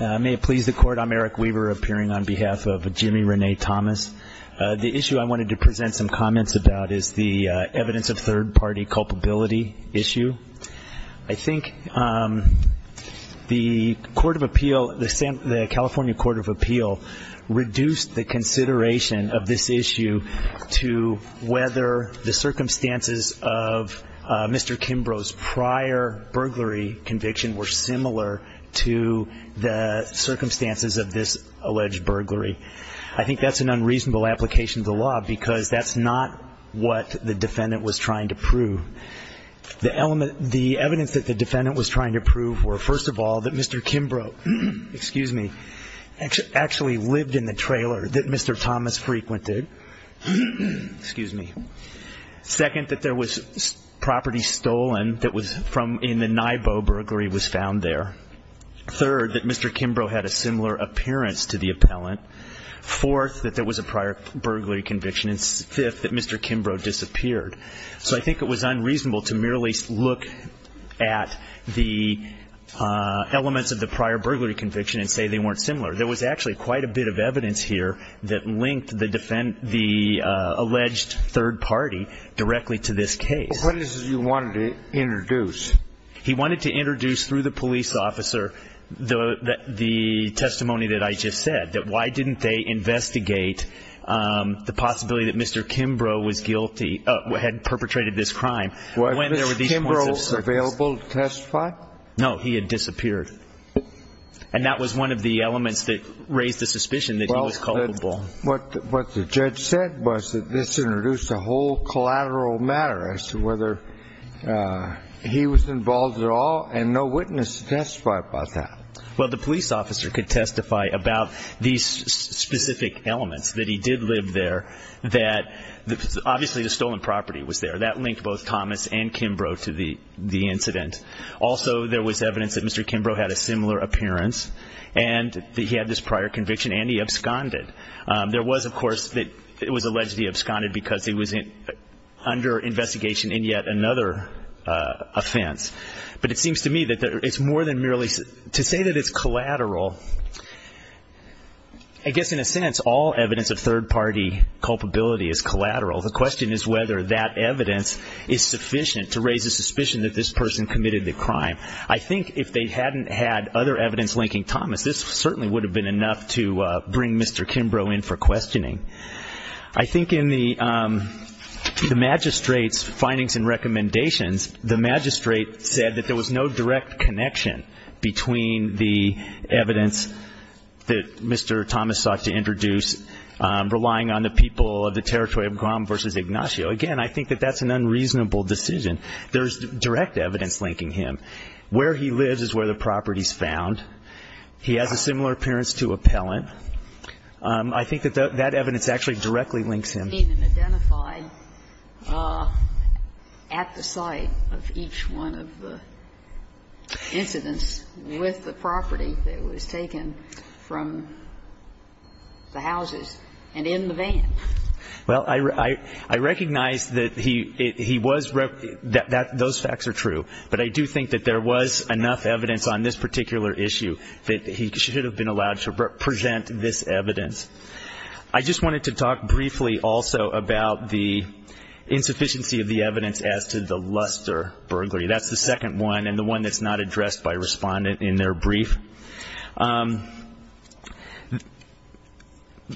May it please the Court, I'm Eric Weaver, appearing on behalf of Jimmy Rene Thomas. The issue I wanted to present some comments about is the evidence of third-party culpability issue. I think the Court of Appeal, the California Court of Appeal, reduced the consideration of this issue to whether the circumstances of Mr. Kimbrough's prior burglary conviction were similar to the circumstances of this alleged burglary. I think that's an unreasonable application of the law because that's not what the defendant was trying to prove. The evidence that the defendant was trying to prove were, first of all, that Mr. Kimbrough, excuse me, actually lived in the trailer that Mr. Thomas frequented, excuse me. Second, that there was property stolen that was from in the Naibo burglary was found there. Third, that Mr. Kimbrough had a similar appearance to the appellant. Fourth, that there was a prior burglary conviction. And fifth, that Mr. Kimbrough disappeared. So I think it was unreasonable to merely look at the elements of the prior burglary conviction and say they weren't similar. There was actually quite a bit of evidence here that linked the alleged third party directly to this case. But what is it you wanted to introduce? He wanted to introduce through the police officer the testimony that I just said, that why didn't they investigate the possibility that Mr. Kimbrough was guilty, had perpetrated this crime, when there were these points of service. Was Mr. Kimbrough available to testify? No. He had disappeared. And that was one of the elements that raised the suspicion that he was culpable. Well, what the judge said was that this introduced a whole collateral matter as to whether he was involved at all, and no witness to testify about that. Well, the police officer could testify about these specific elements, that he did live there, that obviously the stolen property was there. That linked both Thomas and Kimbrough to the incident. Also, there was evidence that Mr. Kimbrough had a similar appearance, and that he had this prior conviction, and he absconded. There was, of course, that it was alleged he absconded because he was under investigation in yet another offense. But it seems to me that it's more than merely to say that it's collateral. I guess in a sense all evidence of third party culpability is collateral. The question is whether that evidence is sufficient to raise the suspicion that this person committed the crime. I think if they hadn't had other evidence linking Thomas, this certainly would have been enough to bring Mr. Kimbrough in for questioning. I think in the magistrate's findings and recommendations, the magistrate said that there was no direct connection between the evidence that Mr. Thomas sought to introduce, relying on the people of the territory of Graham v. Ignacio. Again, I think that that's an unreasonable decision. There's direct evidence linking him. Where he lives is where the property is found. He has a similar appearance to Appellant. I think that that evidence actually directly links him. I recognize that he was, those facts are true. But I do think that there was enough evidence on this particular issue that he should have been allowed to present this evidence. I just wanted to talk briefly also about the insufficiency of the evidence as to the Luster burglary. That's the second one and the one that's not addressed by a respondent in their brief.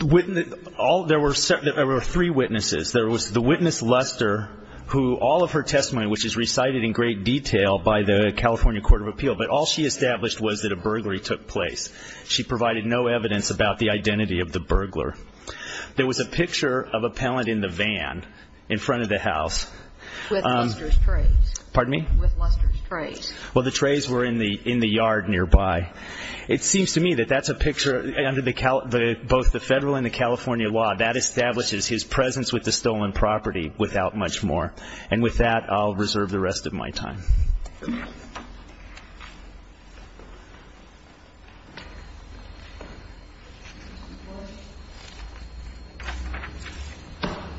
There were three witnesses. There was the witness Luster who all of her testimony, which is recited in great detail by the California Court of Appeal, but all she established was that a burglary took place. She provided no evidence about the identity of the burglar. There was a picture of Appellant in the van in front of the house. With Luster's trays. Pardon me? With Luster's trays. Well, the trays were in the yard nearby. It seems to me that that's a picture, under both the federal and the California law, that establishes his presence with the stolen property without much more. And with that, I'll reserve the rest of my time.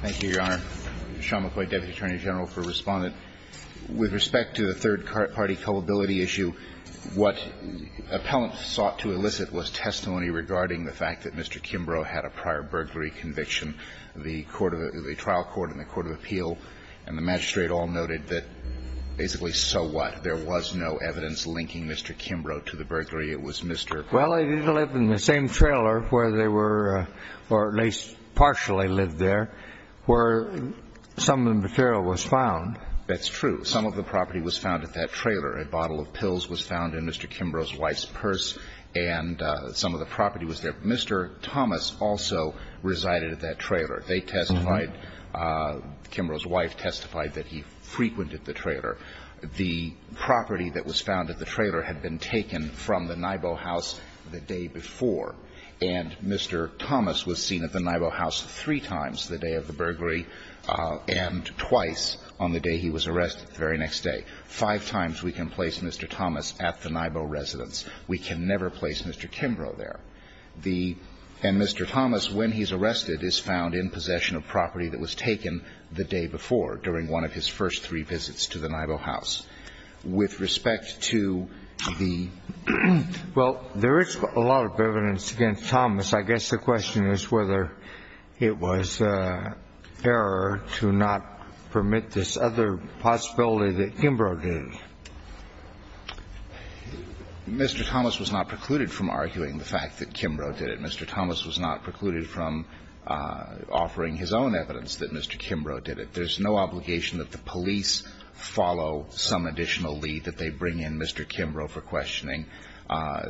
Thank you, Your Honor. Sean McCoy, Deputy Attorney General for Respondent. With respect to the third party culpability issue, what Appellant sought to elicit was testimony regarding the fact that Mr. Kimbrough had a prior burglary conviction, the trial court in the Court of Appeal, and the magistrate all noted that basically so what? There was no evidence linking Mr. Kimbrough to the burglary. It was Mr. Thomas. Well, they didn't live in the same trailer where they were, or at least partially lived there, where some of the material was found. That's true. Some of the property was found at that trailer. A bottle of pills was found in Mr. Kimbrough's wife's purse, and some of the property was there. Mr. Thomas also resided at that trailer. They testified, Kimbrough's wife testified that he frequented the trailer. The property that was found at the trailer had been taken from the Naibo house the day before, and Mr. Thomas was seen at the Naibo house three times the day of the burglary and twice on the day he was arrested, the very next day. Five times we can place Mr. Thomas at the Naibo residence. We can never place Mr. Kimbrough there. And Mr. Thomas, when he's arrested, is found in possession of property that was taken the day before during one of his first three visits to the Naibo house. With respect to the ---- Well, there is a lot of evidence against Thomas. I guess the question is whether it was error to not permit this other possibility that Kimbrough did. Mr. Thomas was not precluded from arguing the fact that Kimbrough did it. Mr. Thomas was not precluded from offering his own evidence that Mr. Kimbrough did it. There's no obligation that the police follow some additional lead that they bring in Mr. Kimbrough for questioning.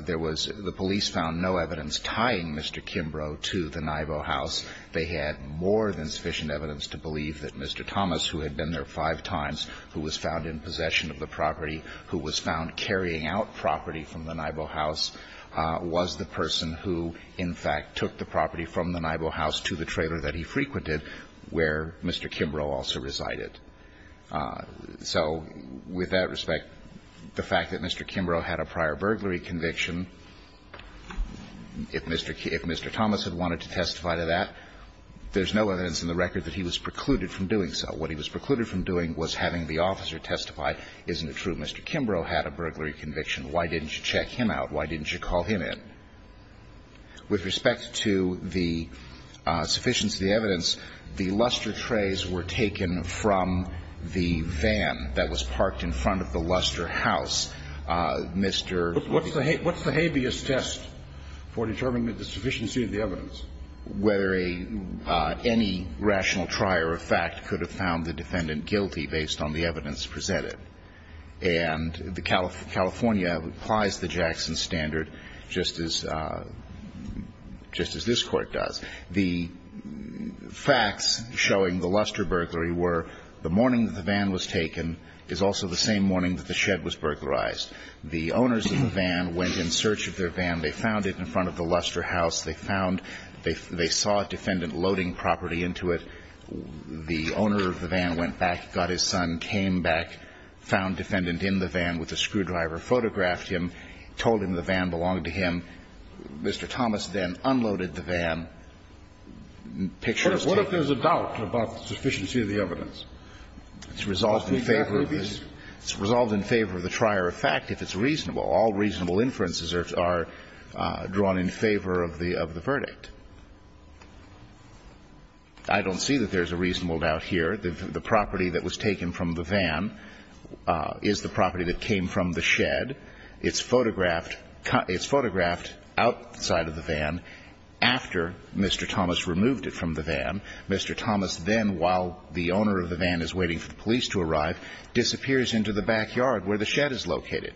There was the police found no evidence tying Mr. Kimbrough to the Naibo house. They had more than sufficient evidence to believe that Mr. Thomas, who had been there five times, who was found in possession of the property, who was found carrying out property from the Naibo house, was the person who, in fact, took the property from the Naibo house to the trailer that he frequented where Mr. Kimbrough also resided. So with that respect, the fact that Mr. Kimbrough had a prior burglary conviction, if Mr. Kim ---- if Mr. Thomas had wanted to testify to that, there's no evidence in the record that he was precluded from doing so. What he was precluded from doing was having the officer testify, isn't it true Mr. Kimbrough had a burglary conviction? Why didn't you check him out? Why didn't you call him in? With respect to the sufficiency of the evidence, the luster trays were taken from the van that was parked in front of the luster house. Mr. ---- Kennedy, what's the habeas test for determining the sufficiency of the evidence? Whether a ---- any rational trier of fact could have found the defendant guilty based on the evidence presented. And the California applies the Jackson standard just as this Court does. The facts showing the luster burglary were the morning that the van was taken is also the same morning that the shed was burglarized. The owners of the van went in search of their van. They found it in front of the luster house. They found they saw a defendant loading property into it. The owner of the van went back, got his son, came back, found defendant in the van with a screwdriver, photographed him, told him the van belonged to him. Mr. Thomas then unloaded the van, pictures taken. What if there's a doubt about the sufficiency of the evidence? It's resolved in favor of the trier of fact if it's reasonable. All reasonable inferences are drawn in favor of the verdict. I don't see that there's a reasonable doubt here. The property that was taken from the van is the property that came from the shed. It's photographed outside of the van after Mr. Thomas removed it from the van. Mr. Thomas then, while the owner of the van is waiting for the police to arrive, disappears into the backyard where the shed is located.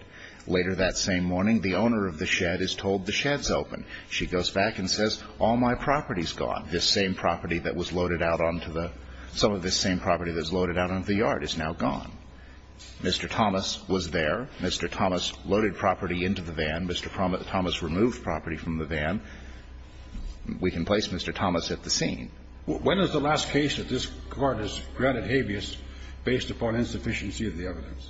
Later that same morning, the owner of the shed is told the shed's open. She goes back and says, all my property's gone. This same property that was loaded out onto the – some of this same property that was loaded out onto the yard is now gone. Mr. Thomas was there. Mr. Thomas loaded property into the van. Mr. Thomas removed property from the van. We can place Mr. Thomas at the scene. When is the last case that this Court has granted habeas based upon insufficiency of the evidence?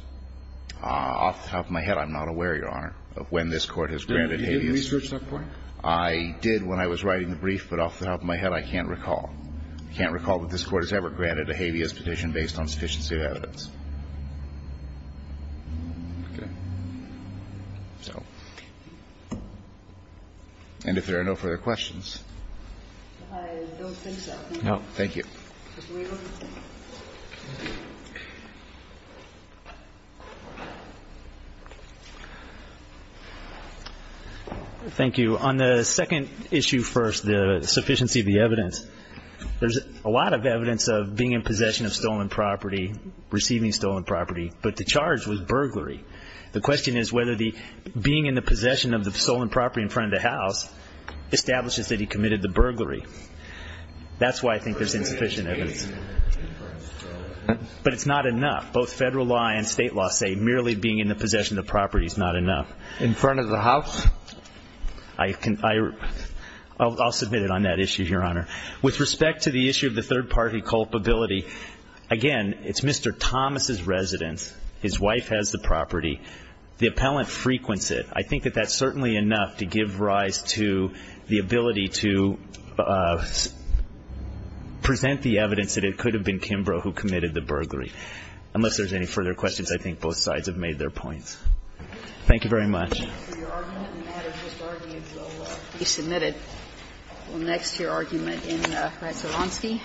Off the top of my head, I'm not aware, Your Honor, of when this Court has granted habeas. Did you research that point? I did when I was writing the brief, but off the top of my head, I can't recall. I can't recall that this Court has ever granted a habeas petition based on insufficiency of evidence. Okay. So. And if there are no further questions. I don't think so. No. Thank you. Mr. Weaver. Thank you. On the second issue first, the sufficiency of the evidence, there's a lot of evidence of being in possession of stolen property, receiving stolen property, but the charge was burglary. The question is whether the being in the possession of the stolen property in front of the house establishes that he committed the burglary. That's why I think there's insufficient evidence. But it's not enough. Both federal law and state law say merely being in the possession of the property is not enough. In front of the house? I'll submit it on that issue, Your Honor. With respect to the issue of the third-party culpability, again, it's Mr. Thomas' residence. His wife has the property. The appellant frequents it. I think that that's certainly enough to give rise to the ability to present the evidence that it could have been Kimbrough who committed the burglary. Unless there's any further questions, I think both sides have made their points. Thank you very much. Your argument in that or just arguments that will be submitted? Well, next, your argument in Ratzeronski.